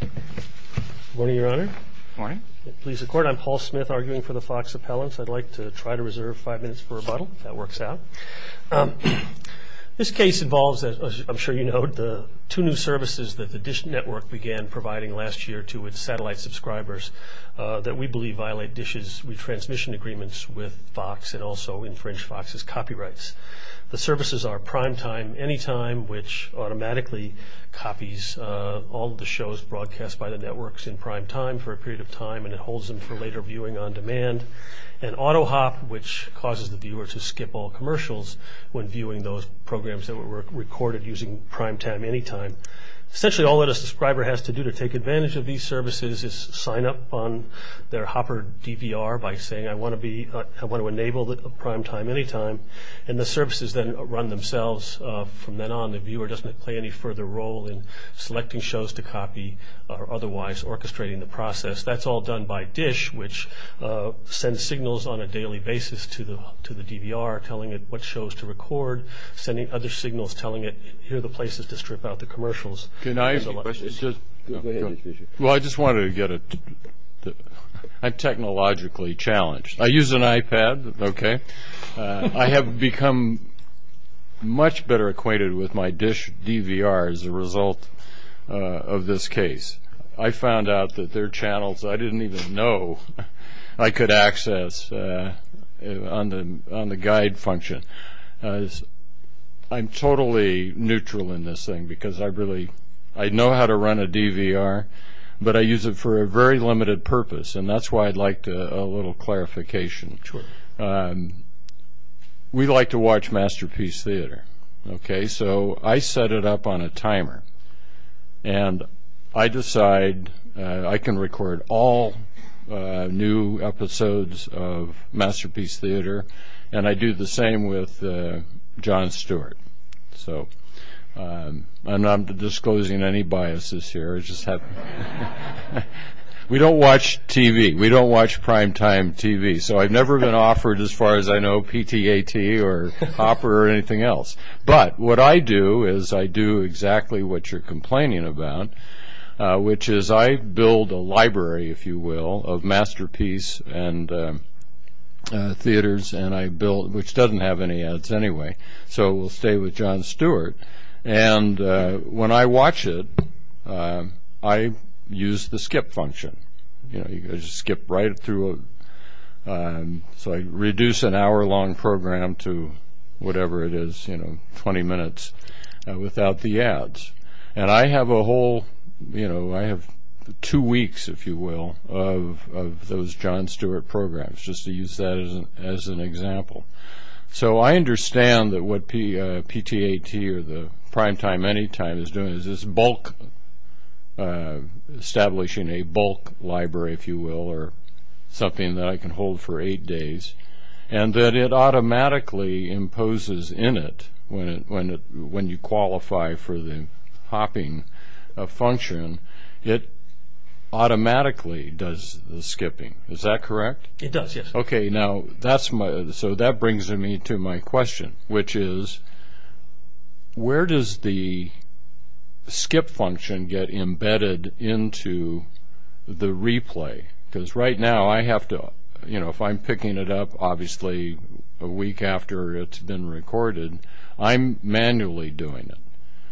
Good morning, Your Honor. Good morning. Please record. I'm Paul Smith, arguing for the Fox appellants. I'd like to try to reserve five minutes for rebuttal, if that works out. This case involves, as I'm sure you know, the two new services that the Dish Network began providing last year to its satellite subscribers that we believe violate Dish's retransmission agreements with Fox and also infringe Fox's copyrights. The services are Primetime Anytime, which automatically copies all of the shows broadcast by the networks in primetime for a period of time, and it holds them for later viewing on demand, and AutoHop, which causes the viewer to skip all commercials when viewing those programs that were recorded using Primetime Anytime. Essentially, all that a subscriber has to do to take advantage of these services is sign up on their Hopper DVR by saying, I want to enable Primetime Anytime. And the services then run themselves from then on. The viewer doesn't play any further role in selecting shows to copy or otherwise orchestrating the process. That's all done by Dish, which sends signals on a daily basis to the DVR telling it what shows to record, sending other signals telling it here are the places to strip out the commercials. Can I ask a question? Go ahead, Mr. Fischer. Well, I just wanted to get a – I'm technologically challenged. I use an iPad, okay. I have become much better acquainted with my Dish DVR as a result of this case. I found out that there are channels I didn't even know I could access on the guide function. I'm totally neutral in this thing because I really – I know how to run a DVR, but I use it for a very limited purpose, and that's why I'd like a little clarification. Sure. We like to watch Masterpiece Theater, okay. So I set it up on a timer, and I decide I can record all new episodes of Masterpiece Theater, and I do the same with Jon Stewart. So I'm not disclosing any biases here. I just have – we don't watch TV. We don't watch primetime TV. So I've never been offered, as far as I know, PTAT or opera or anything else. But what I do is I do exactly what you're complaining about, which is I build a library, if you will, of Masterpiece Theaters, which doesn't have any ads anyway. So it will stay with Jon Stewart. And when I watch it, I use the skip function. You know, you just skip right through. So I reduce an hour-long program to whatever it is, you know, 20 minutes without the ads. And I have a whole – you know, I have two weeks, if you will, of those Jon Stewart programs, just to use that as an example. So I understand that what PTAT or the primetime anytime is doing is this bulk – establishing a bulk library, if you will, or something that I can hold for eight days, and that it automatically imposes in it when you qualify for the hopping function, it automatically does the skipping. Is that correct? It does, yes. Okay, now that's my – so that brings me to my question, which is where does the skip function get embedded into the replay? Because right now I have to – you know, if I'm picking it up, obviously a week after it's been recorded, I'm manually doing it.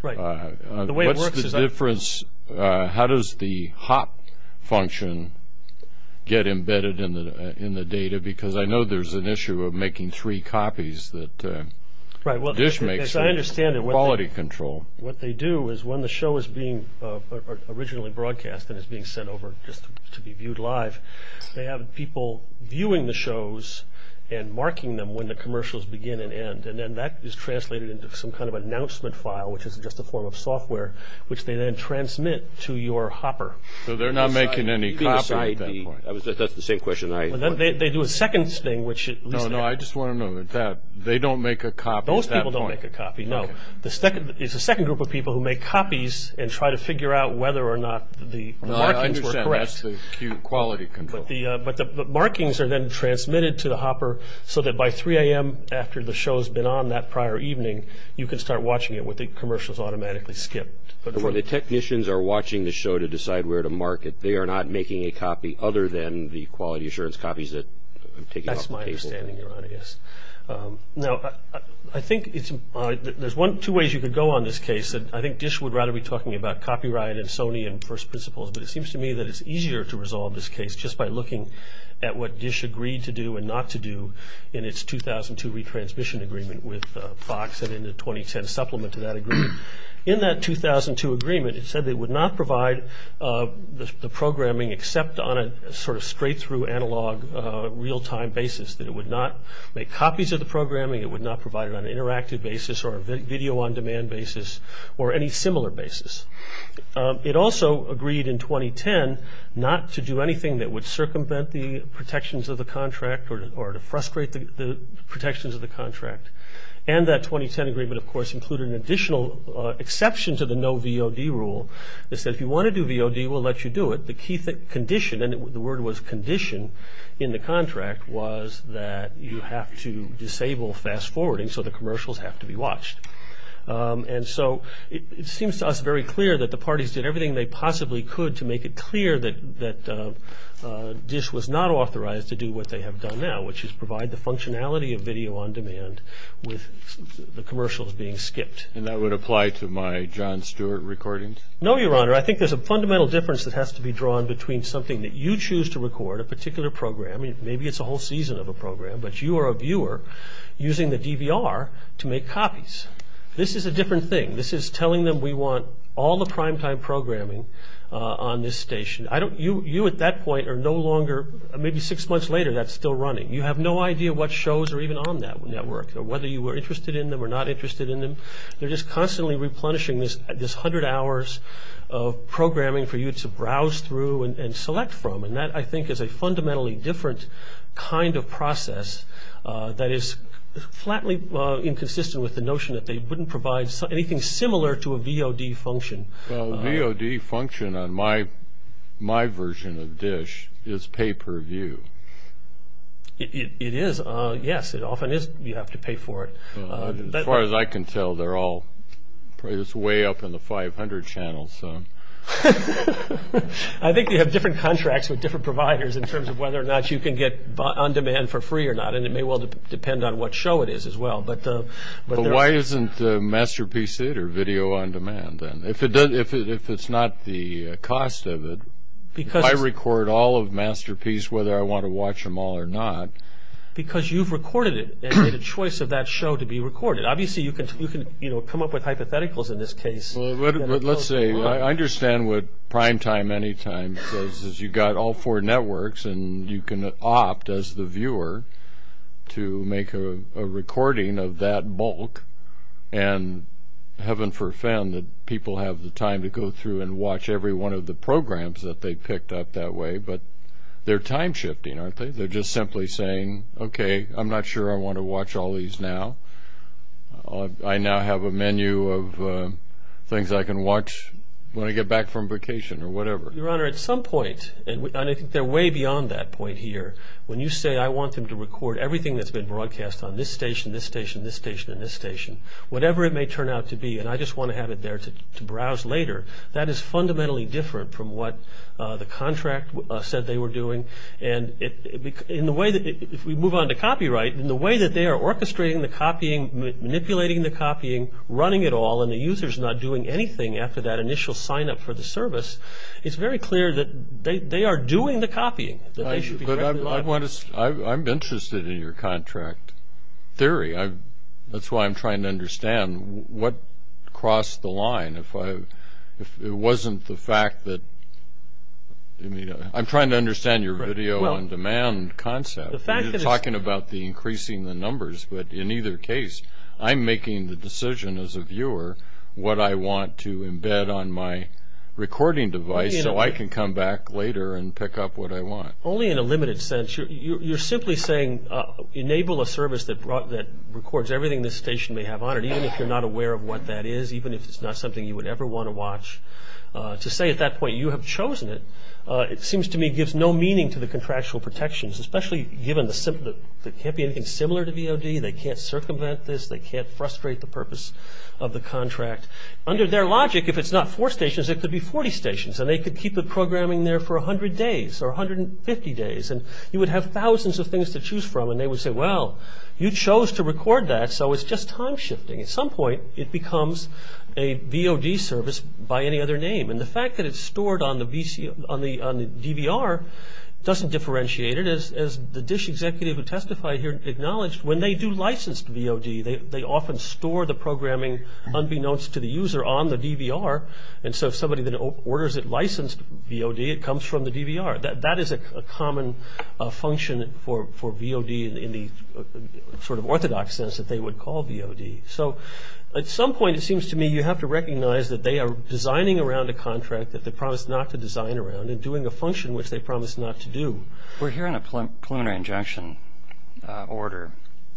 Right. What's the difference – how does the hop function get embedded in the data? Because I know there's an issue of making three copies that – Right, well, I understand it. Quality control. What they do is when the show is being originally broadcast and is being sent over just to be viewed live, they have people viewing the shows and marking them when the commercials begin and end. And then that is translated into some kind of announcement file, which is just a form of software, which they then transmit to your hopper. So they're not making any copies at that point. That's the same question I – They do a second thing, which – No, no, I just want to know that they don't make a copy at that point. Those people don't make a copy, no. Okay. It's a second group of people who make copies and try to figure out whether or not the markings were correct. I understand. That's the quality control. But the markings are then transmitted to the hopper so that by 3 a.m. after the show has been on that prior evening, you can start watching it when the commercials automatically skip. But when the technicians are watching the show to decide where to mark it, they are not making a copy other than the quality assurance copies that – That's my understanding, Your Honor, yes. Now, I think it's – there's two ways you could go on this case. I think Dish would rather be talking about copyright and Sony and first principles, but it seems to me that it's easier to resolve this case just by looking at what Dish agreed to do and not to do in its 2002 retransmission agreement with Fox and in the 2010 supplement to that agreement. In that 2002 agreement, it said they would not provide the programming except on a sort of straight-through, analog, real-time basis, that it would not make copies of the programming, it would not provide it on an interactive basis or a video-on-demand basis or any similar basis. It also agreed in 2010 not to do anything that would circumvent the protections of the contract or to frustrate the protections of the contract. And that 2010 agreement, of course, included an additional exception to the no VOD rule. It said if you want to do VOD, we'll let you do it. The key condition – and the word was condition in the contract – was that you have to disable fast-forwarding so the commercials have to be watched. And so it seems to us very clear that the parties did everything they possibly could to make it clear that Dish was not authorized to do what they have done now, which is provide the functionality of video-on-demand with the commercials being skipped. And that would apply to my Jon Stewart recordings? No, Your Honor. I think there's a fundamental difference that has to be drawn between something that you choose to record, a particular program – maybe it's a whole season of a program – but you are a viewer using the DVR to make copies. This is a different thing. This is telling them we want all the prime-time programming on this station. You at that point are no longer – maybe six months later, that's still running. You have no idea what shows are even on that network or whether you were interested in them or not interested in them. They're just constantly replenishing this hundred hours of programming for you to browse through and select from. And that, I think, is a fundamentally different kind of process that is flatly inconsistent with the notion that they wouldn't provide anything similar to a VOD function. Well, a VOD function on my version of Dish is pay-per-view. It is. Yes, it often is. You have to pay for it. As far as I can tell, they're all – it's way up in the 500 channels. I think they have different contracts with different providers in terms of whether or not you can get On Demand for free or not, and it may well depend on what show it is as well. But why isn't Masterpiece it or Video On Demand then? If it's not the cost of it, if I record all of Masterpiece, whether I want to watch them all or not. Because you've recorded it and made a choice of that show to be recorded. Obviously, you can come up with hypotheticals in this case. Well, let's say – I understand what Primetime Anytime says, is you've got all four networks, and you can opt as the viewer to make a recording of that bulk, and heaven forfend that people have the time to go through and watch every one of the programs that they picked up that way. But they're time-shifting, aren't they? They're just simply saying, okay, I'm not sure I want to watch all these now. I now have a menu of things I can watch when I get back from vacation or whatever. Your Honor, at some point, and I think they're way beyond that point here, when you say I want them to record everything that's been broadcast on this station, this station, this station, and this station, whatever it may turn out to be, and I just want to have it there to browse later, that is fundamentally different from what the contract said they were doing. And if we move on to copyright, in the way that they are orchestrating the copying, manipulating the copying, running it all, and the user's not doing anything after that initial sign-up for the service, it's very clear that they are doing the copying. But I'm interested in your contract theory. That's why I'm trying to understand what crossed the line. If it wasn't the fact that – I'm trying to understand your video-on-demand concept. You're talking about increasing the numbers, but in either case, I'm making the decision as a viewer what I want to embed on my recording device so I can come back later and pick up what I want. Only in a limited sense. You're simply saying enable a service that records everything this station may have on it, even if you're not aware of what that is, even if it's not something you would ever want to watch. To say at that point you have chosen it, it seems to me gives no meaning to the contractual protections, especially given that it can't be anything similar to VOD, they can't circumvent this, they can't frustrate the purpose of the contract. Under their logic, if it's not four stations, it could be 40 stations, and they could keep the programming there for 100 days or 150 days, and you would have thousands of things to choose from, and they would say, well, you chose to record that, so it's just time-shifting. At some point, it becomes a VOD service by any other name, and the fact that it's stored on the DVR doesn't differentiate it. As the DISH executive who testified here acknowledged, when they do licensed VOD, they often store the programming unbeknownst to the user on the DVR, and so if somebody then orders it licensed VOD, it comes from the DVR. That is a common function for VOD in the sort of orthodox sense that they would call VOD. At some point, it seems to me you have to recognize that they are designing around a contract that they promised not to design around and doing a function which they promised not to do. We're hearing a preliminary injunction order.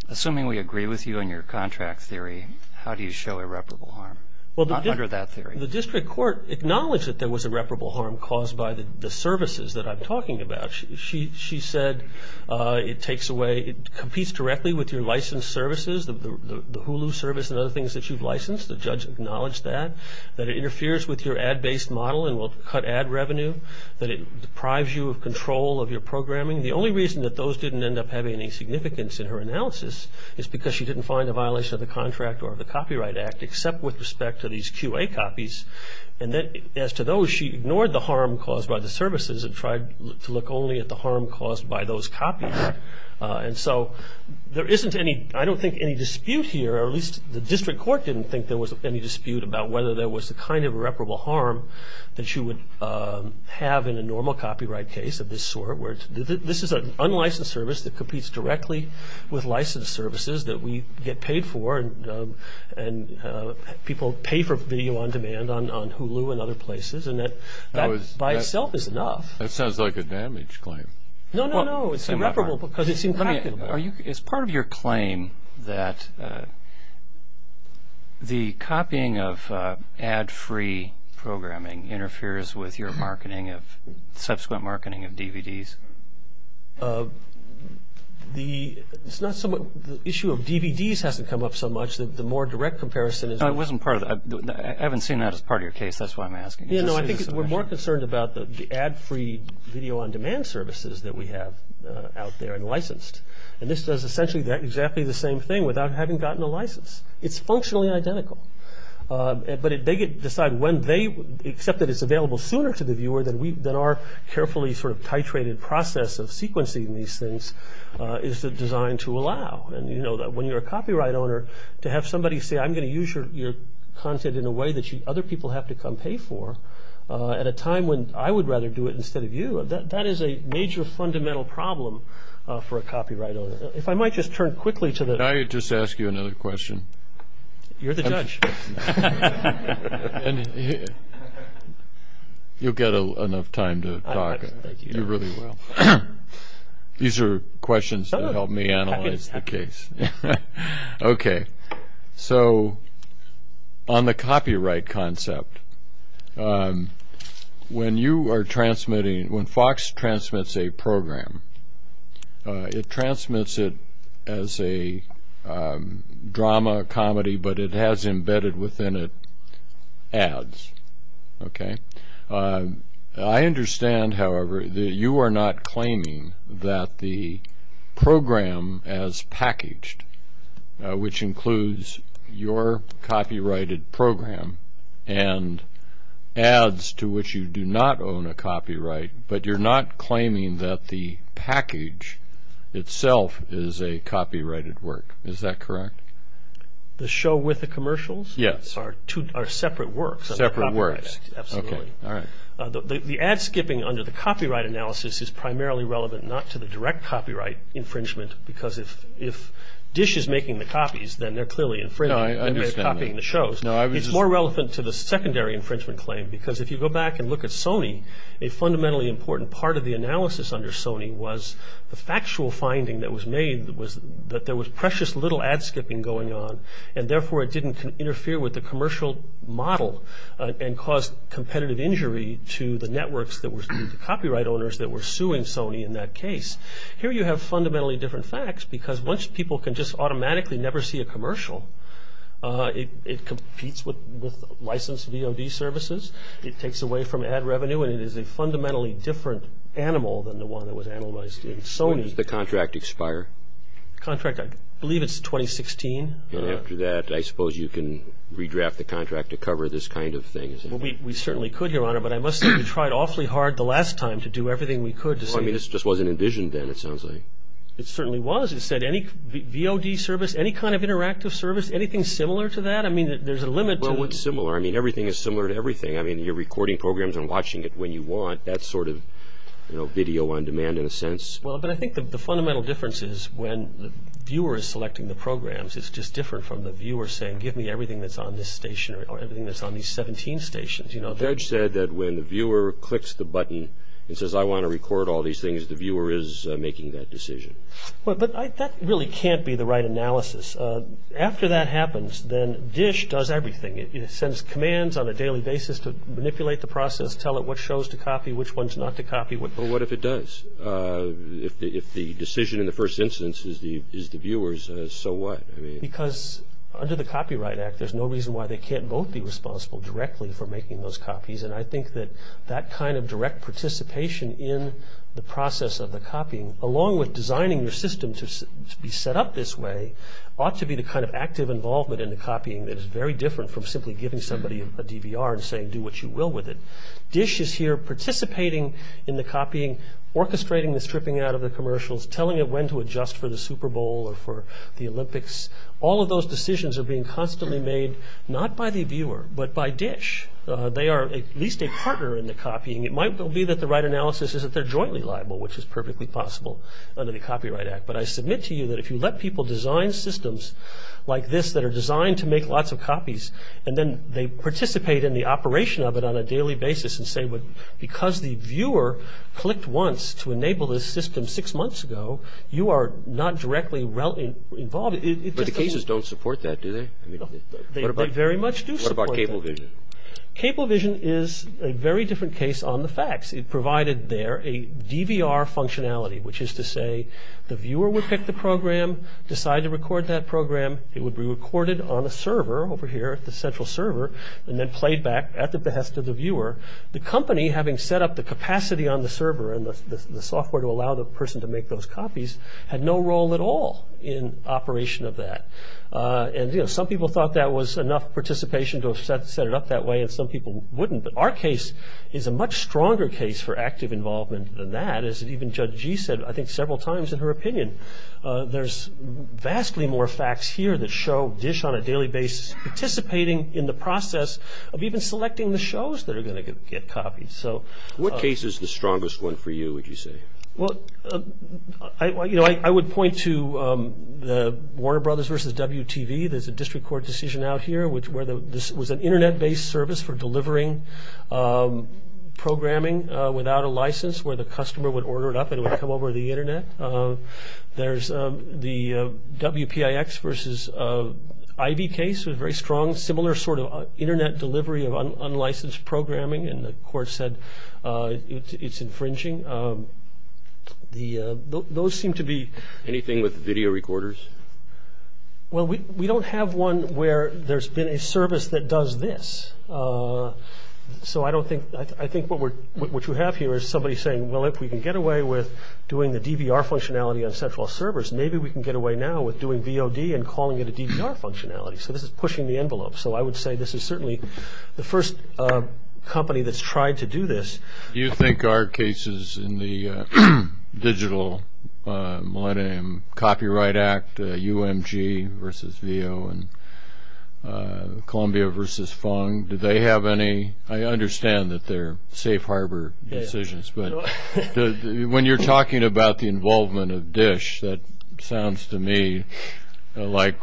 Assuming we agree with you in your contract theory, how do you show irreparable harm under that theory? The district court acknowledged that there was irreparable harm caused by the services that I'm talking about. She said it competes directly with your licensed services, the Hulu service and other things that you've licensed. The judge acknowledged that. That it interferes with your ad-based model and will cut ad revenue. That it deprives you of control of your programming. The only reason that those didn't end up having any significance in her analysis is because she didn't find a violation of the contract or of the Copyright Act, except with respect to these QA copies. As to those, she ignored the harm caused by the services and tried to look only at the harm caused by those copies. There isn't any dispute here, or at least the district court didn't think there was any dispute about whether there was a kind of irreparable harm that you would have in a normal copyright case of this sort. This is an unlicensed service that competes directly with licensed services that we get paid for. People pay for video on demand on Hulu and other places, and that by itself is enough. That sounds like a damage claim. No, no, no. It's irreparable because it's impractical. Is part of your claim that the copying of ad-free programming interferes with your subsequent marketing of DVDs? The issue of DVDs hasn't come up so much. The more direct comparison is... I haven't seen that as part of your case. That's why I'm asking. No, I think we're more concerned about the ad-free video on demand services that we have out there and licensed. And this does essentially exactly the same thing without having gotten a license. It's functionally identical. But they decide when they accept that it's available sooner to the viewer than our carefully sort of titrated process of sequencing these things is designed to allow. And you know that when you're a copyright owner, to have somebody say I'm going to use your content in a way that other people have to come pay for at a time when I would rather do it instead of you, that is a major fundamental problem for a copyright owner. If I might just turn quickly to the... Can I just ask you another question? You're the judge. You'll get enough time to talk. You really will. These are questions to help me analyze the case. Okay. So on the copyright concept, when you are transmitting, when Fox transmits a program, it transmits it as a drama, comedy, but it has embedded within it ads. Okay? I understand, however, that you are not claiming that the program as packaged, which includes your copyrighted program and ads to which you do not own a copyright, but you're not claiming that the package itself is a copyrighted work. Is that correct? The show with the commercials? Yes. Are separate works. Separate works. Absolutely. All right. The ad skipping under the copyright analysis is primarily relevant not to the direct copyright infringement because if Dish is making the copies, then they're clearly infringing. No, I understand. They're copying the shows. It's more relevant to the secondary infringement claim because if you go back and look at Sony, a fundamentally important part of the analysis under Sony was the factual finding that was made that there was precious little ad skipping going on, and therefore it didn't interfere with the commercial model and cause competitive injury to the networks that were the copyright owners that were suing Sony in that case. Here you have fundamentally different facts because once people can just automatically never see a commercial, it competes with licensed VOD services. It takes away from ad revenue, When does the contract expire? Contract, I believe it's 2016. After that, I suppose you can redraft the contract to cover this kind of thing. We certainly could, Your Honor, but I must say we tried awfully hard the last time to do everything we could. This just wasn't envisioned then, it sounds like. It certainly was. It said any VOD service, any kind of interactive service, anything similar to that? There's a limit to it. What's similar? Everything is similar to everything. You're recording programs and watching it when you want. That's sort of video on demand in a sense. But I think the fundamental difference is when the viewer is selecting the programs, it's just different from the viewer saying, give me everything that's on this station or everything that's on these 17 stations. The judge said that when the viewer clicks the button and says, I want to record all these things, the viewer is making that decision. But that really can't be the right analysis. After that happens, then DISH does everything. It sends commands on a daily basis to manipulate the process, tell it what shows to copy, which ones not to copy. But what if it does? If the decision in the first instance is the viewer's, so what? Because under the Copyright Act, there's no reason why they can't both be responsible directly for making those copies. And I think that that kind of direct participation in the process of the copying, along with designing your system to be set up this way, ought to be the kind of active involvement in the copying that is very different from simply giving somebody a DVR and saying, do what you will with it. DISH is here participating in the copying, orchestrating the stripping out of the commercials, telling it when to adjust for the Super Bowl or for the Olympics. All of those decisions are being constantly made not by the viewer, but by DISH. They are at least a partner in the copying. It might be that the right analysis is that they're jointly liable, which is perfectly possible under the Copyright Act. But I submit to you that if you let people design systems like this that are designed to make lots of copies, and then they participate in the operation of it on a daily basis and say, because the viewer clicked once to enable this system six months ago, you are not directly involved. But the cases don't support that, do they? They very much do support that. What about CableVision? CableVision is a very different case on the facts. It provided there a DVR functionality, which is to say the viewer would pick the program, decide to record that program. It would be recorded on a server over here at the central server and then played back at the behest of the viewer. The company, having set up the capacity on the server and the software to allow the person to make those copies, had no role at all in operation of that. Some people thought that was enough participation to have set it up that way, and some people wouldn't. But our case is a much stronger case for active involvement than that, as even Judge Gee said I think several times in her opinion. There's vastly more facts here that show DISH on a daily basis participating in the process of even selecting the shows that are going to get copied. What case is the strongest one for you, would you say? I would point to the Warner Brothers versus WTV. There's a district court decision out here where this was an Internet-based service for delivering programming without a license where the customer would order it up and it would come over the Internet. There's the WPIX versus Ivy case, a very strong similar sort of Internet delivery of unlicensed programming, and the court said it's infringing. Those seem to be... Anything with video recorders? Well, we don't have one where there's been a service that does this. So I think what you have here is somebody saying, well, if we can get away with doing the DVR functionality on central servers, maybe we can get away now with doing VOD and calling it a DVR functionality. So this is pushing the envelope. So I would say this is certainly the first company that's tried to do this. Do you think our cases in the Digital Millennium Copyright Act, UMG versus VEO and Columbia versus Fung, do they have any? I understand that they're safe harbor decisions, but when you're talking about the involvement of DISH, that sounds to me like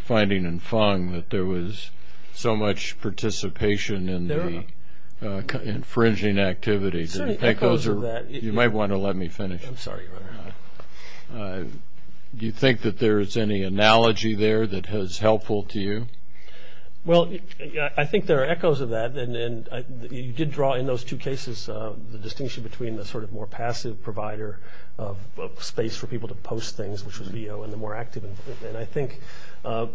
finding in Fung that there was so much participation in the infringing activity. There are certainly echoes of that. You might want to let me finish. I'm sorry. Do you think that there is any analogy there that is helpful to you? Well, I think there are echoes of that, and you did draw in those two cases the distinction between the sort of more passive provider of space for people to post things, which was VEO, and the more active. And I think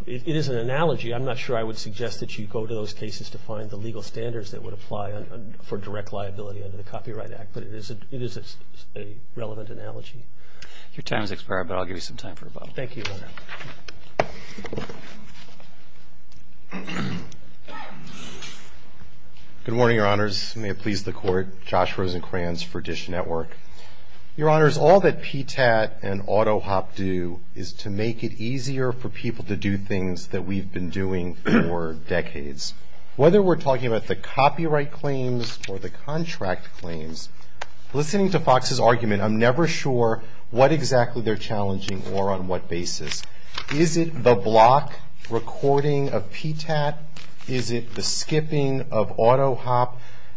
it is an analogy. I'm not sure I would suggest that you go to those cases to find the legal standards that would apply for direct liability under the Copyright Act, but it is a relevant analogy. Your time has expired, but I'll give you some time for a bottle. Thank you. Good morning, Your Honors. May it please the Court. Josh Rosenkranz for DISH Network. Your Honors, all that PTAT and AutoHop do is to make it easier for people to do things that we've been doing for decades. Whether we're talking about the copyright claims or the contract claims, listening to Fox's argument, I'm never sure what exactly they're challenging or on what basis. Is it the block recording of PTAT? Is it the skipping of AutoHop?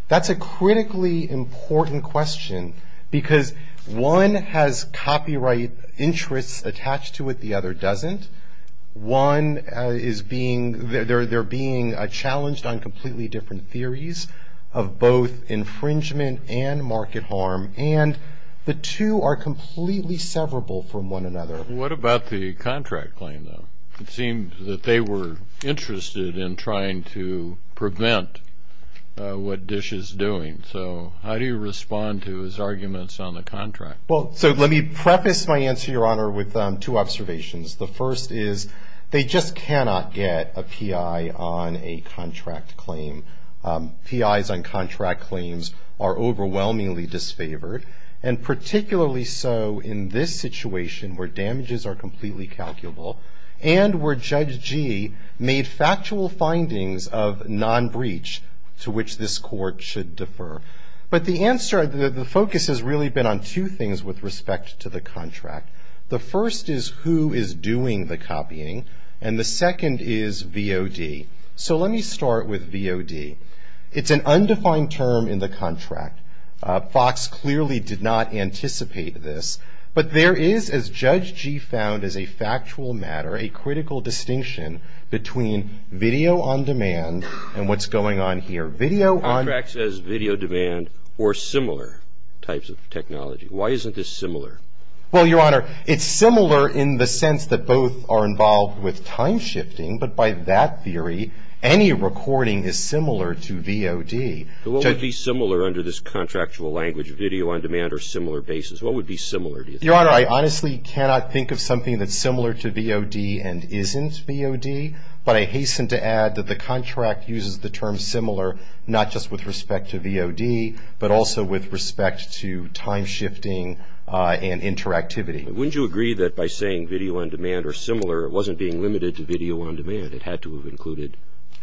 That's a critically important question, because one has copyright interests attached to it, the other doesn't. One is being, they're being challenged on completely different theories of both infringement and market harm, and the two are completely severable from one another. What about the contract claim, though? It seemed that they were interested in trying to prevent what DISH is doing. So how do you respond to his arguments on the contract? Well, so let me preface my answer, Your Honor, with two observations. The first is they just cannot get a PI on a contract claim. PIs on contract claims are overwhelmingly disfavored, and particularly so in this situation where damages are completely calculable and where Judge Gee made factual findings of non-breach to which this Court should defer. But the answer, the focus has really been on two things with respect to the contract. The first is who is doing the copying, and the second is VOD. So let me start with VOD. It's an undefined term in the contract. Fox clearly did not anticipate this. But there is, as Judge Gee found as a factual matter, a critical distinction between video on demand and what's going on here. Video on demand. The contract says video demand or similar types of technology. Why isn't this similar? Well, Your Honor, it's similar in the sense that both are involved with time shifting, but by that theory, any recording is similar to VOD. So what would be similar under this contractual language, video on demand or similar basis? What would be similar, do you think? Your Honor, I honestly cannot think of something that's similar to VOD and isn't VOD, but I hasten to add that the contract uses the term similar not just with respect to VOD, but also with respect to time shifting and interactivity. Wouldn't you agree that by saying video on demand or similar, it wasn't being limited to video on demand? It had to have included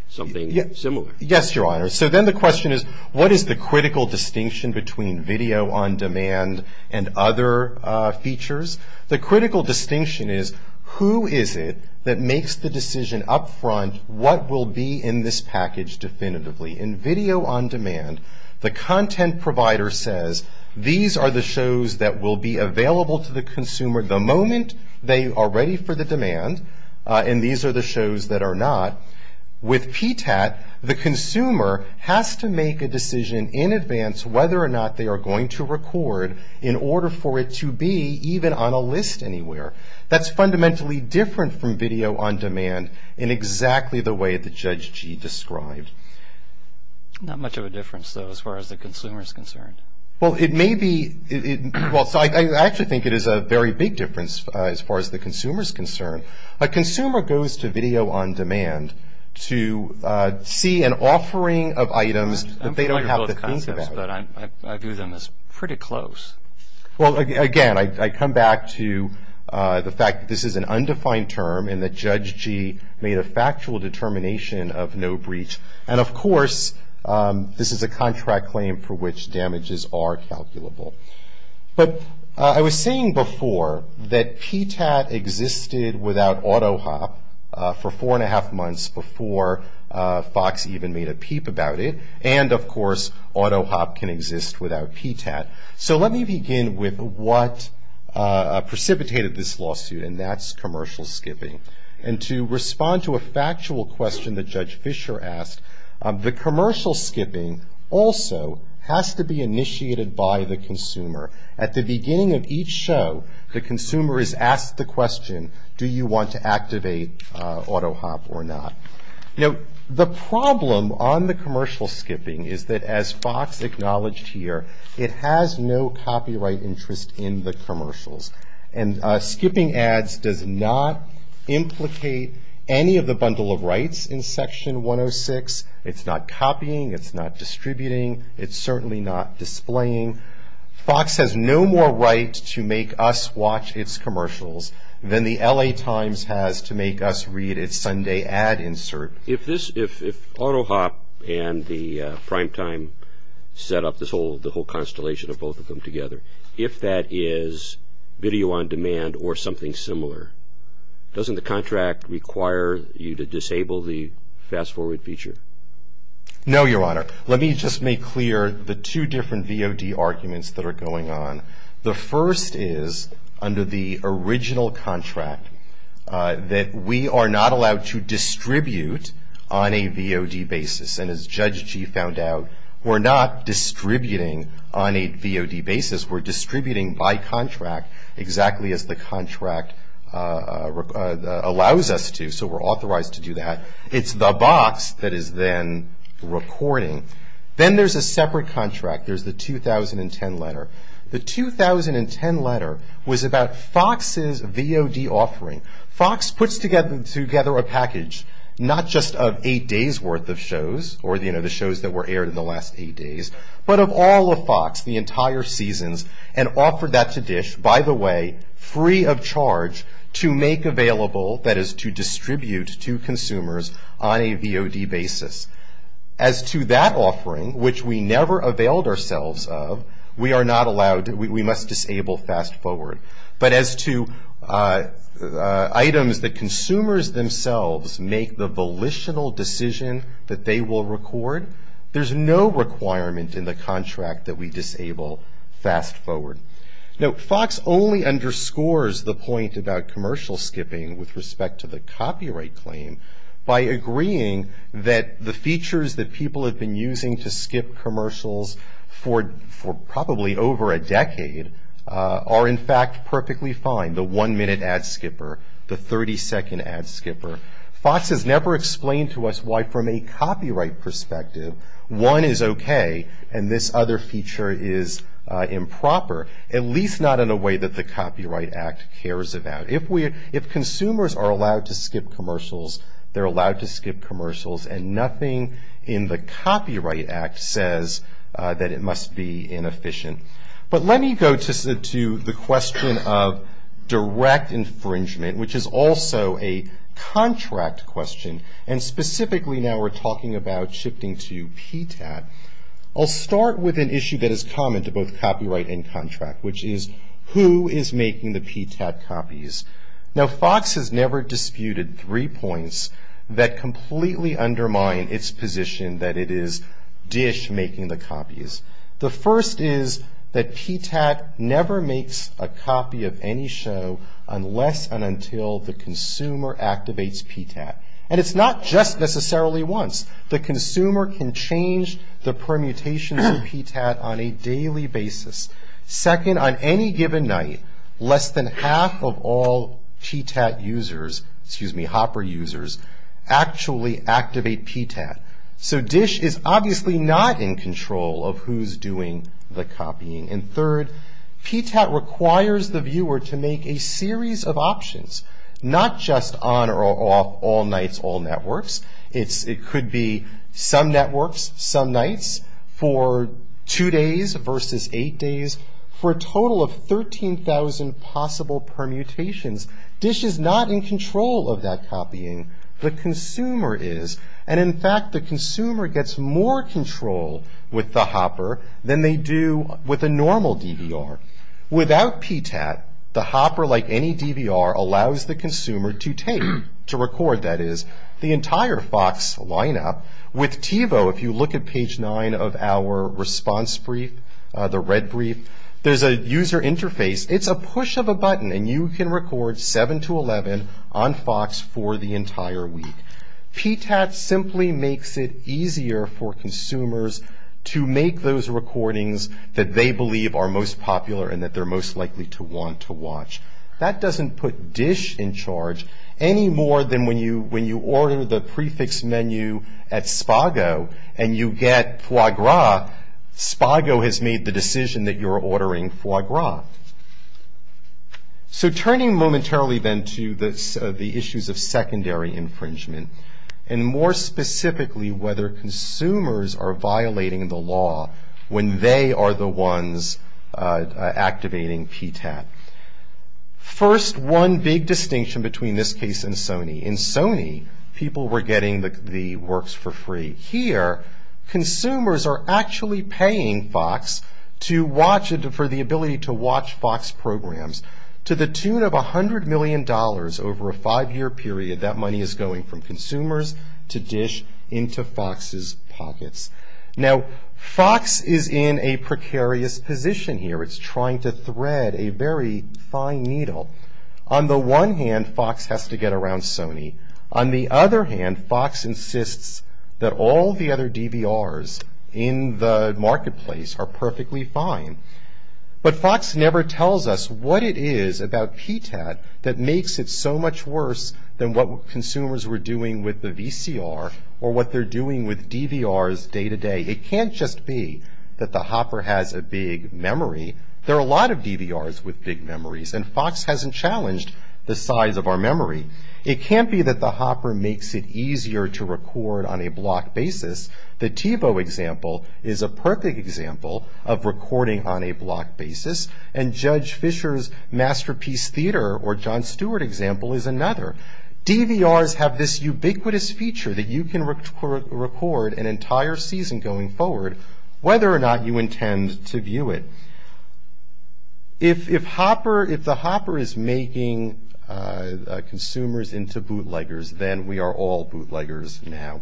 something similar. Yes, Your Honor. So then the question is what is the critical distinction between video on demand and other features? The critical distinction is who is it that makes the decision up front what will be in this package definitively. In video on demand, the content provider says these are the shows that will be available to the consumer the moment they are ready for the demand, and these are the shows that are not. With PTAT, the consumer has to make a decision in advance whether or not they are going to record in order for it to be even on a list anywhere. That's fundamentally different from video on demand in exactly the way that Judge Gee described. Not much of a difference, though, as far as the consumer is concerned. Well, it may be. Well, I actually think it is a very big difference as far as the consumer is concerned. A consumer goes to video on demand to see an offering of items that they don't have the means to buy. I'm familiar with both concepts, but I view them as pretty close. Well, again, I come back to the fact that this is an undefined term and that Judge Gee made a factual determination of no breach. And, of course, this is a contract claim for which damages are calculable. But I was saying before that PTAT existed without AutoHop for four and a half months before Fox even made a peep about it, and, of course, AutoHop can exist without PTAT. So let me begin with what precipitated this lawsuit, and that's commercial skipping. And to respond to a factual question that Judge Fisher asked, the commercial skipping also has to be initiated by the consumer. At the beginning of each show, the consumer is asked the question, do you want to activate AutoHop or not? Now, the problem on the commercial skipping is that, as Fox acknowledged here, it has no copyright interest in the commercials. And skipping ads does not implicate any of the bundle of rights in Section 106. It's not copying. It's not distributing. It's certainly not displaying. Fox has no more right to make us watch its commercials than the L.A. Times has to make us read its Sunday ad insert. If AutoHop and the primetime set up the whole constellation of both of them together, if that is video on demand or something similar, doesn't the contract require you to disable the fast-forward feature? No, Your Honor. Let me just make clear the two different VOD arguments that are going on. The first is under the original contract that we are not allowed to distribute on a VOD basis. And as Judge Gee found out, we're not distributing on a VOD basis. We're distributing by contract exactly as the contract allows us to, so we're authorized to do that. It's the box that is then recording. Then there's a separate contract. There's the 2010 letter. The 2010 letter was about Fox's VOD offering. Fox puts together a package not just of eight days' worth of shows or, you know, the shows that were aired in the last eight days, but of all of Fox, the entire seasons, and offered that to DISH, by the way, free of charge to make available, that is, to distribute to consumers on a VOD basis. As to that offering, which we never availed ourselves of, we are not allowed. We must disable fast-forward. But as to items that consumers themselves make the volitional decision that they will record, there's no requirement in the contract that we disable fast-forward. Now, Fox only underscores the point about commercial skipping with respect to the copyright claim by agreeing that the features that people have been using to skip commercials for probably over a decade are, in fact, perfectly fine, the one-minute ad skipper, the 30-second ad skipper. Fox has never explained to us why, from a copyright perspective, one is okay and this other feature is improper, at least not in a way that the Copyright Act cares about. If consumers are allowed to skip commercials, they're allowed to skip commercials, and nothing in the Copyright Act says that it must be inefficient. But let me go to the question of direct infringement, which is also a contract question, and specifically now we're talking about shifting to PTAT. I'll start with an issue that is common to both copyright and contract, which is who is making the PTAT copies. Now, Fox has never disputed three points that completely undermine its position that it is DISH making the copies. The first is that PTAT never makes a copy of any show unless and until the consumer activates PTAT. And it's not just necessarily once. The consumer can change the permutations of PTAT on a daily basis. Second, on any given night, less than half of all PTAT users, excuse me, Hopper users, actually activate PTAT. So DISH is obviously not in control of who's doing the copying. And third, PTAT requires the viewer to make a series of options, not just on or off all nights, all networks. It could be some networks, some nights, for two days versus eight days, for a total of 13,000 possible permutations. The consumer is. And in fact, the consumer gets more control with the Hopper than they do with a normal DVR. Without PTAT, the Hopper, like any DVR, allows the consumer to take, to record, that is, the entire Fox lineup. With TiVo, if you look at page nine of our response brief, the red brief, there's a user interface. It's a push of a button, and you can record seven to 11 on Fox for the entire week. PTAT simply makes it easier for consumers to make those recordings that they believe are most popular and that they're most likely to want to watch. That doesn't put DISH in charge any more than when you order the prefix menu at Spago and you get foie gras. Spago has made the decision that you're ordering foie gras. So turning momentarily then to the issues of secondary infringement, and more specifically whether consumers are violating the law when they are the ones activating PTAT. First, one big distinction between this case and Sony. In Sony, people were getting the works for free. Here, consumers are actually paying Fox for the ability to watch Fox programs. To the tune of $100 million over a five-year period, that money is going from consumers to DISH into Fox's pockets. Now, Fox is in a precarious position here. It's trying to thread a very fine needle. On the one hand, Fox has to get around Sony. On the other hand, Fox insists that all the other DVRs in the marketplace are perfectly fine. But Fox never tells us what it is about PTAT that makes it so much worse than what consumers were doing with the VCR or what they're doing with DVRs day to day. It can't just be that the hopper has a big memory. There are a lot of DVRs with big memories, and Fox hasn't challenged the size of our memory. It can't be that the hopper makes it easier to record on a block basis. The TiVo example is a perfect example of recording on a block basis, and Judge Fisher's Masterpiece Theater or Jon Stewart example is another. DVRs have this ubiquitous feature that you can record an entire season going forward, whether or not you intend to view it. If the hopper is making consumers into bootleggers, then we are all bootleggers now.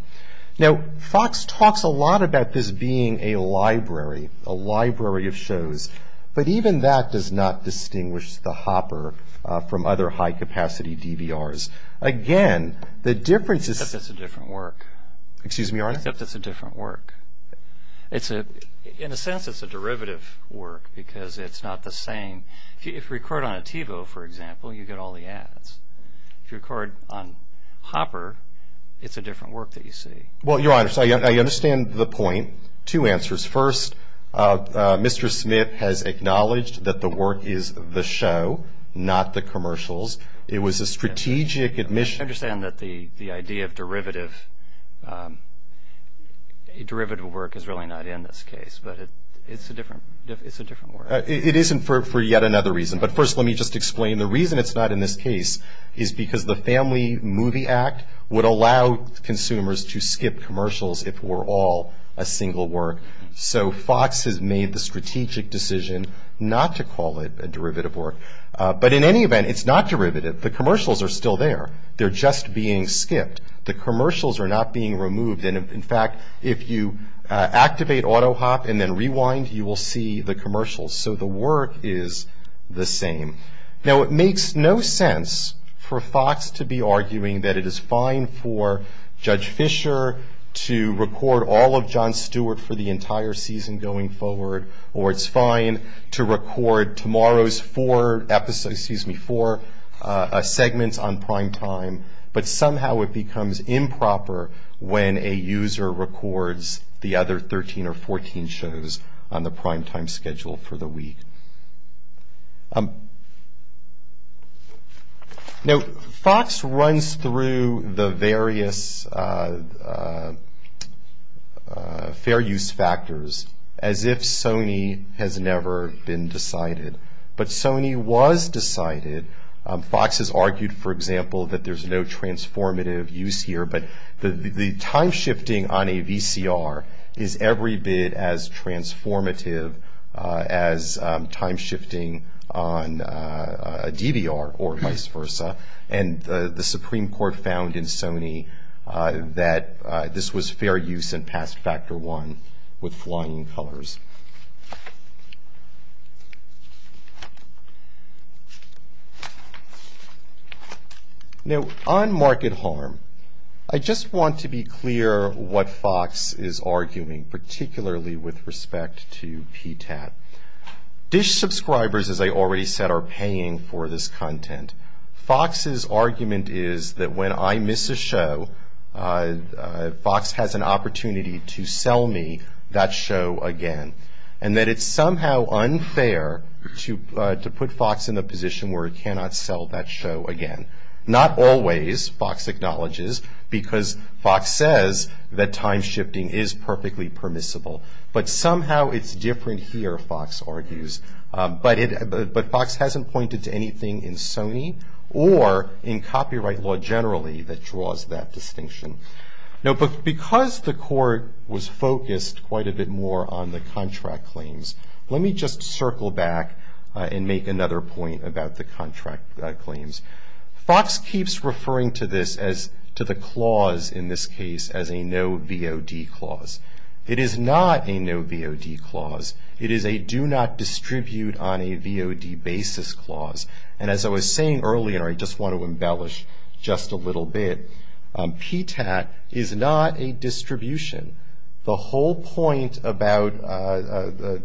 Now, Fox talks a lot about this being a library, a library of shows, but even that does not distinguish the hopper from other high-capacity DVRs. Again, the difference is- Except it's a different work. Excuse me, Your Honor? Except it's a different work. In a sense, it's a derivative work because it's not the same. If you record on a TiVo, for example, you get all the ads. If you record on hopper, it's a different work that you see. Well, Your Honor, I understand the point. Two answers. First, Mr. Smith has acknowledged that the work is the show, not the commercials. It was a strategic admission- A derivative work is really not in this case, but it's a different work. It isn't for yet another reason, but first let me just explain. The reason it's not in this case is because the Family Movie Act would allow consumers to skip commercials if we're all a single work. So Fox has made the strategic decision not to call it a derivative work. But in any event, it's not derivative. The commercials are still there. They're just being skipped. The commercials are not being removed. And, in fact, if you activate AutoHop and then rewind, you will see the commercials. So the work is the same. Now, it makes no sense for Fox to be arguing that it is fine for Judge Fisher to record all of Jon Stewart for the entire season going forward, or it's fine to record tomorrow's four segments on prime time. But somehow it becomes improper when a user records the other 13 or 14 shows on the prime time schedule for the week. Now, Fox runs through the various fair use factors as if Sony has never been decided. But Sony was decided. Fox has argued, for example, that there's no transformative use here. But the time shifting on a VCR is every bit as transformative as time shifting on a DVR or vice versa. And the Supreme Court found in Sony that this was fair use and passed factor one with flying colors. Now, on market harm, I just want to be clear what Fox is arguing, particularly with respect to PTAT. Dish subscribers, as I already said, are paying for this content. Fox's argument is that when I miss a show, Fox has an opportunity to sell me that show again. And that it's somehow unfair to put Fox in a position where it cannot sell that show again. Not always, Fox acknowledges, because Fox says that time shifting is perfectly permissible. But somehow it's different here, Fox argues. But Fox hasn't pointed to anything in Sony or in copyright law generally that draws that distinction. Now, because the court was focused quite a bit more on the contract claims, let me just circle back and make another point about the contract claims. Fox keeps referring to this as, to the clause in this case, as a no VOD clause. It is not a no VOD clause. It is a do not distribute on a VOD basis clause. And as I was saying earlier, and I just want to embellish just a little bit, PTAT is not a distribution. The whole point about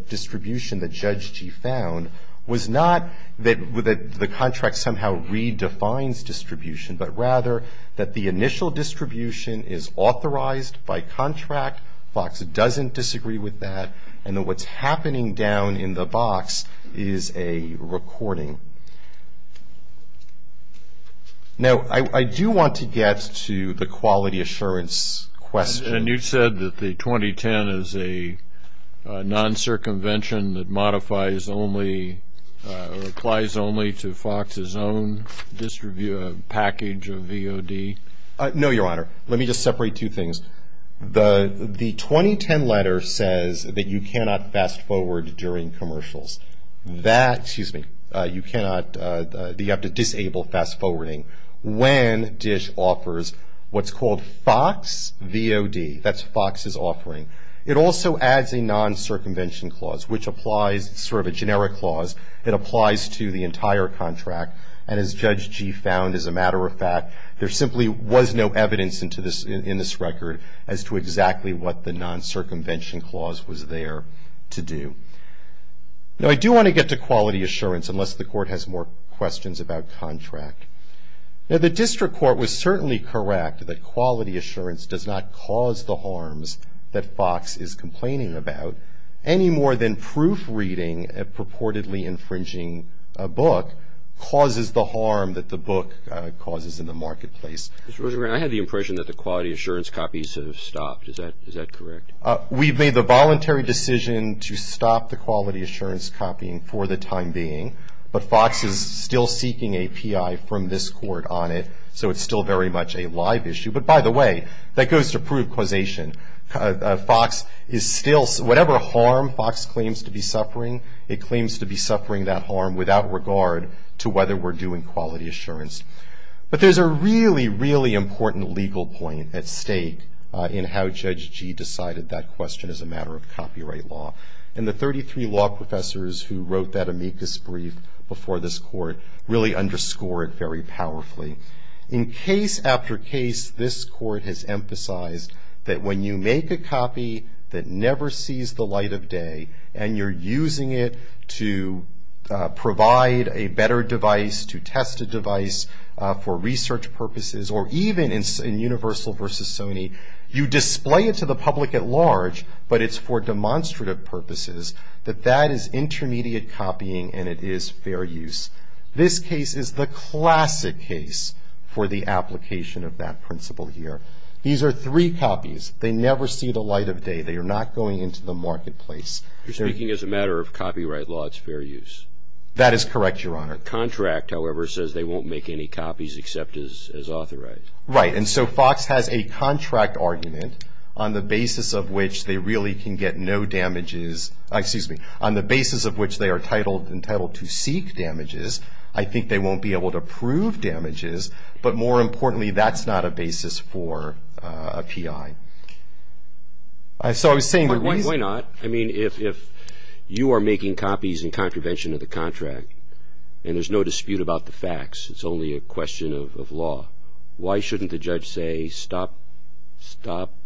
distribution that Judge Gee found was not that the contract somehow redefines distribution, but rather that the initial distribution is authorized by contract. Fox doesn't disagree with that. And what's happening down in the box is a recording. Now, I do want to get to the quality assurance question. And you said that the 2010 is a non-circumvention that modifies only, or applies only to Fox's own package of VOD? No, Your Honor. Let me just separate two things. The 2010 letter says that you cannot fast-forward during commercials. That, excuse me, you cannot, you have to disable fast-forwarding. When DISH offers what's called Fox VOD, that's Fox's offering, it also adds a non-circumvention clause, which applies, sort of a generic clause, that applies to the entire contract. And as Judge Gee found, as a matter of fact, there simply was no evidence in this record as to exactly what the non-circumvention clause was there to do. Now, I do want to get to quality assurance, unless the Court has more questions about contract. Now, the District Court was certainly correct that quality assurance does not cause the harms that Fox is complaining about, any more than proofreading a purportedly infringing a book causes the harm that the book causes in the marketplace. Mr. Rosengrant, I had the impression that the quality assurance copies have stopped. Is that correct? We've made the voluntary decision to stop the quality assurance copying for the time being, but Fox is still seeking a P.I. from this Court on it, so it's still very much a live issue. But by the way, that goes to proof causation. Fox is still, whatever harm Fox claims to be suffering, it claims to be suffering that harm without regard to whether we're doing quality assurance. But there's a really, really important legal point at stake in how Judge Gee decided that question as a matter of copyright law. And the 33 law professors who wrote that amicus brief before this Court really underscore it very powerfully. In case after case, this Court has emphasized that when you make a copy that never sees the light of day, and you're using it to provide a better device, to test a device for research purposes, or even in Universal versus Sony, you display it to the public at large, but it's for demonstrative purposes, that that is intermediate copying and it is fair use. This case is the classic case for the application of that principle here. These are three copies. They never see the light of day. They are not going into the marketplace. You're speaking as a matter of copyright law. It's fair use. That is correct, Your Honor. The contract, however, says they won't make any copies except as authorized. Right, and so Fox has a contract argument on the basis of which they really can get no damages, excuse me, on the basis of which they are entitled to seek damages. I think they won't be able to prove damages, but more importantly, that's not a basis for a P.I. So I was saying the reason. Why not? I mean, if you are making copies in contravention of the contract, and there's no dispute about the facts, it's only a question of law, why shouldn't the judge say stop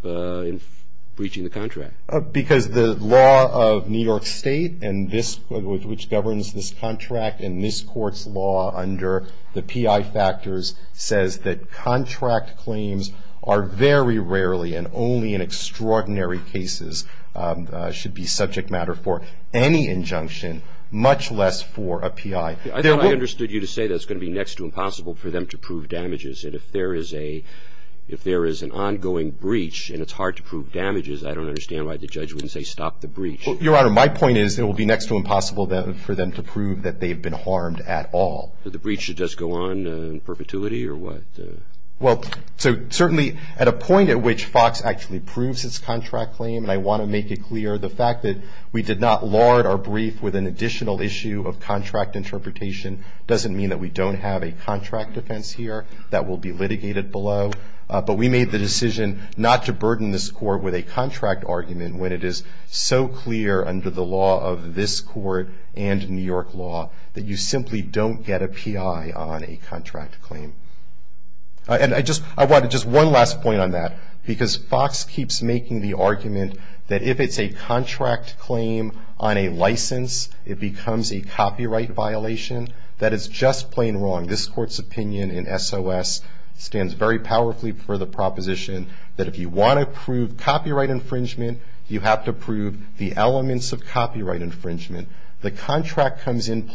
breaching the contract? Because the law of New York State and this, which governs this contract and this Court's law under the P.I. factors says that contract claims are very rarely and only in extraordinary cases should be subject matter for any injunction, much less for a P.I. I thought I understood you to say that it's going to be next to impossible for them to prove damages. And if there is an ongoing breach and it's hard to prove damages, I don't understand why the judge wouldn't say stop the breach. Your Honor, my point is it will be next to impossible for them to prove that they've been harmed at all. So the breach should just go on in perpetuity or what? Well, so certainly at a point at which FOX actually proves its contract claim, and I want to make it clear the fact that we did not lard our brief with an additional issue of contract interpretation doesn't mean that we don't have a contract defense here that will be litigated below. But we made the decision not to burden this Court with a contract argument when it is so clear under the law of this Court and New York law that you simply don't get a P.I. on a contract claim. And I want just one last point on that, because FOX keeps making the argument that if it's a contract claim on a license, it becomes a copyright violation. That is just plain wrong. This Court's opinion in S.O.S. stands very powerfully for the proposition that if you want to prove copyright infringement, you have to prove the elements of copyright infringement. The contract comes into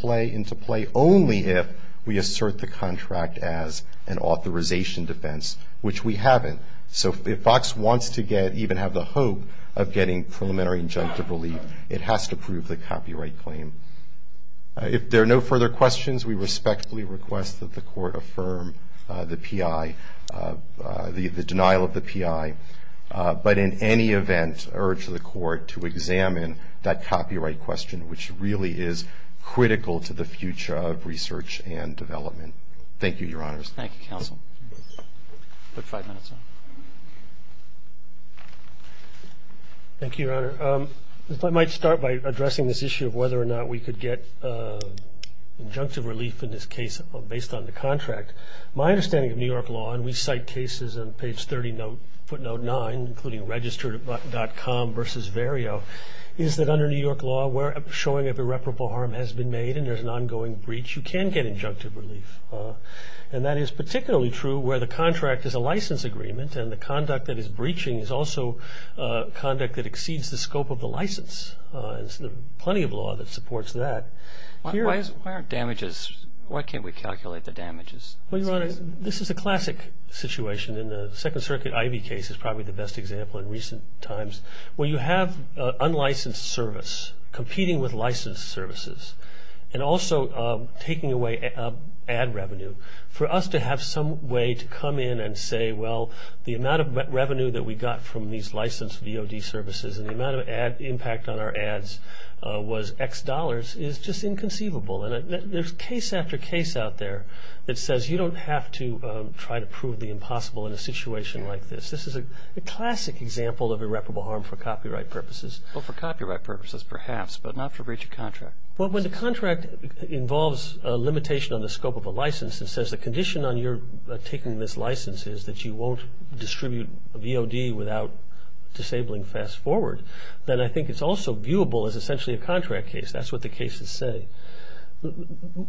play only if we assert the contract as an authorization defense, which we haven't. So if FOX wants to even have the hope of getting preliminary injunctive relief, it has to prove the copyright claim. If there are no further questions, we respectfully request that the Court affirm the P.I., the denial of the P.I., but in any event urge the Court to examine that copyright question, which really is critical to the future of research and development. Thank you, Your Honors. Thank you, Counsel. I'll put five minutes on. Thank you, Your Honor. If I might start by addressing this issue of whether or not we could get injunctive relief in this case based on the contract. My understanding of New York law, and we cite cases on page 30 footnote 9, including registered.com versus Vario, is that under New York law where a showing of irreparable harm has been made and there's an ongoing breach, you can get injunctive relief. And that is particularly true where the contract is a license agreement and the conduct that is breaching is also conduct that exceeds the scope of the license. There's plenty of law that supports that. Why aren't damages? Why can't we calculate the damages? Well, Your Honor, this is a classic situation. And the Second Circuit Ivey case is probably the best example in recent times where you have unlicensed service competing with licensed services and also taking away ad revenue. For us to have some way to come in and say, well, the amount of revenue that we got from these licensed VOD services and the amount of impact on our ads was X dollars is just inconceivable. And there's case after case out there that says you don't have to try to prove the impossible in a situation like this. This is a classic example of irreparable harm for copyright purposes. Well, for copyright purposes perhaps, but not for breach of contract. Well, when the contract involves a limitation on the scope of a license and says the condition on your taking this license is that you won't distribute VOD without disabling Fast Forward, then I think it's also viewable as essentially a contract case. That's what the cases say.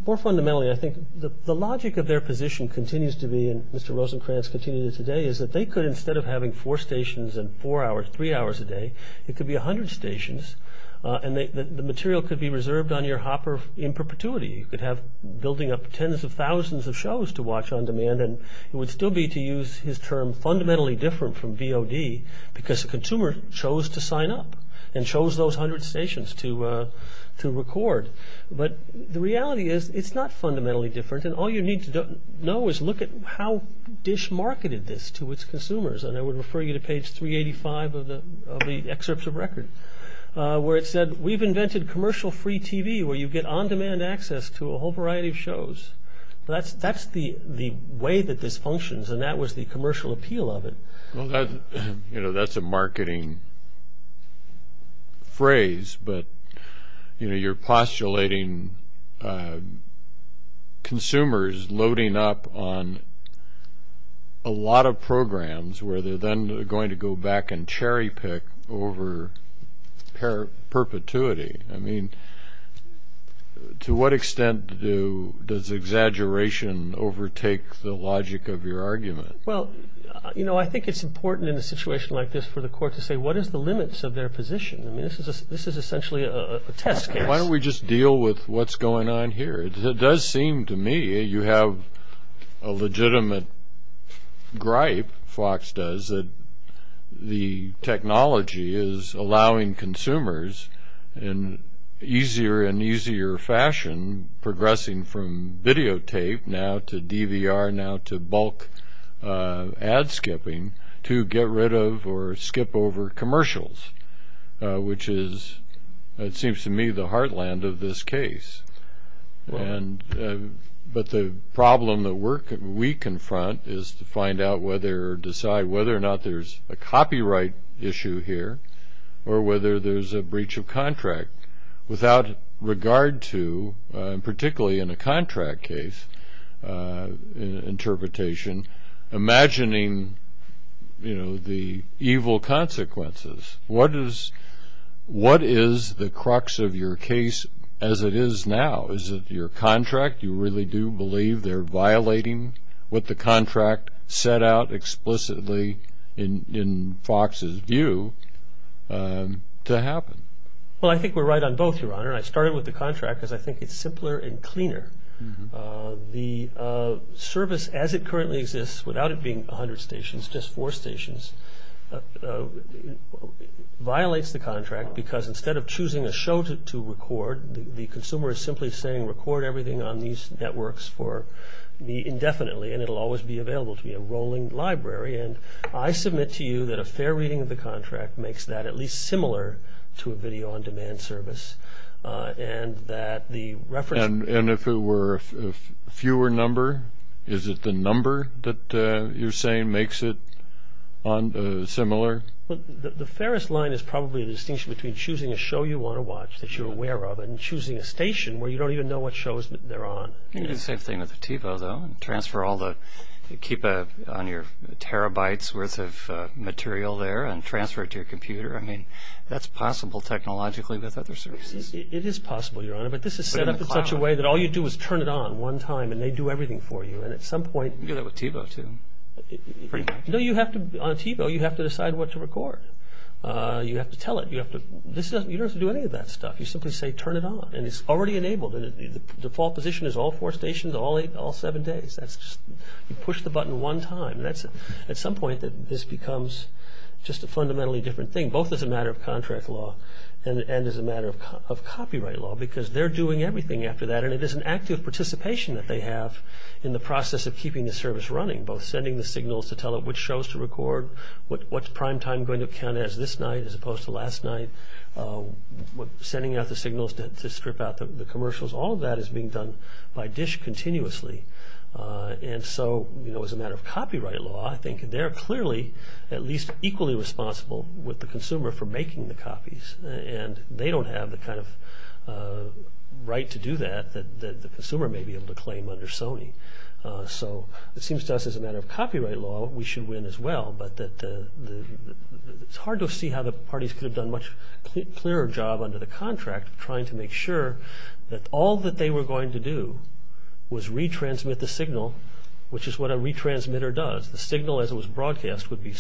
More fundamentally, I think the logic of their position continues to be, and Mr. Rosenkranz continues it today, is that they could instead of having four stations and four hours, three hours a day, it could be 100 stations and the material could be reserved on your hopper in perpetuity. You could have building up tens of thousands of shows to watch on demand and it would still be, to use his term, fundamentally different from VOD because the consumer chose to sign up and chose those 100 stations to record. But the reality is it's not fundamentally different and all you need to know is look at how Dish marketed this to its consumers. And I would refer you to page 385 of the excerpts of record where it said, we've invented commercial free TV where you get on demand access to a whole variety of shows. That's the way that this functions and that was the commercial appeal of it. Well, that's a marketing phrase, but you're postulating consumers loading up on a lot of programs where they're then going to go back and cherry pick over perpetuity. I mean, to what extent does exaggeration overtake the logic of your argument? Well, you know, I think it's important in a situation like this for the court to say, what is the limits of their position? I mean, this is essentially a test case. Why don't we just deal with what's going on here? It does seem to me you have a legitimate gripe, Fox does, that the technology is allowing consumers in easier and easier fashion, progressing from videotape now to DVR now to bulk ad skipping, to get rid of or skip over commercials, which is, it seems to me, the heartland of this case. But the problem that we confront is to find out whether or decide whether or not there's a copyright issue here or whether there's a breach of contract. Without regard to, particularly in a contract case interpretation, imagining, you know, the evil consequences, what is the crux of your case as it is now? Is it your contract? You really do believe they're violating what the contract set out explicitly, in Fox's view, to happen? Well, I think we're right on both, Your Honor. The service, as it currently exists, without it being 100 stations, just four stations, violates the contract, because instead of choosing a show to record, the consumer is simply saying, record everything on these networks for me indefinitely, and it will always be available to me, a rolling library. And I submit to you that a fair reading of the contract makes that at least similar to a video-on-demand service, and that the reference... And if it were a fewer number, is it the number that you're saying makes it similar? Well, the fairest line is probably the distinction between choosing a show you want to watch, that you're aware of, and choosing a station where you don't even know what shows they're on. You can do the same thing with TiVo, though, and transfer all the, keep on your terabytes worth of material there and transfer it to your computer. I mean, that's possible technologically with other services. It is possible, Your Honor, but this is set up in such a way that all you do is turn it on one time and they do everything for you, and at some point... You can do that with TiVo, too, pretty much. No, you have to, on TiVo, you have to decide what to record. You have to tell it. You don't have to do any of that stuff. You simply say, turn it on, and it's already enabled. The default position is all four stations, all seven days. That's just, you push the button one time. At some point, this becomes just a fundamentally different thing. I think both as a matter of contract law and as a matter of copyright law because they're doing everything after that, and it is an active participation that they have in the process of keeping the service running, both sending the signals to tell it which shows to record, what prime time going to count as this night as opposed to last night, sending out the signals to strip out the commercials. All of that is being done by DISH continuously. And so, you know, as a matter of copyright law, I think they're clearly at least equally responsible with the consumer for making the copies, and they don't have the kind of right to do that that the consumer may be able to claim under Sony. So it seems to us as a matter of copyright law, we should win as well, but it's hard to see how the parties could have done a much clearer job under the contract of trying to make sure that all that they were going to do was retransmit the signal, which is what a retransmitter does. The signal as it was broadcast would be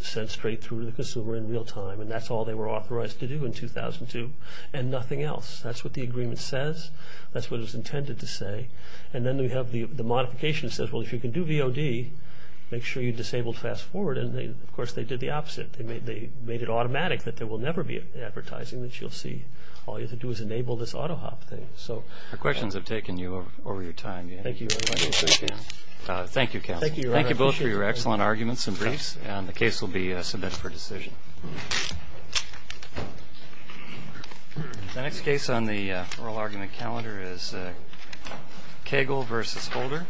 sent straight through to the consumer in real time, and that's all they were authorized to do in 2002, and nothing else. That's what the agreement says. That's what it was intended to say. And then we have the modification that says, well, if you can do VOD, make sure you disable fast forward. And, of course, they did the opposite. They made it automatic that there will never be advertising that you'll see. All you have to do is enable this AutoHop thing. Our questions have taken you over your time. Thank you. Thank you, counsel. Thank you both for your excellent arguments and briefs, and the case will be submitted for decision. The next case on the oral argument calendar is Cagle v. Holder.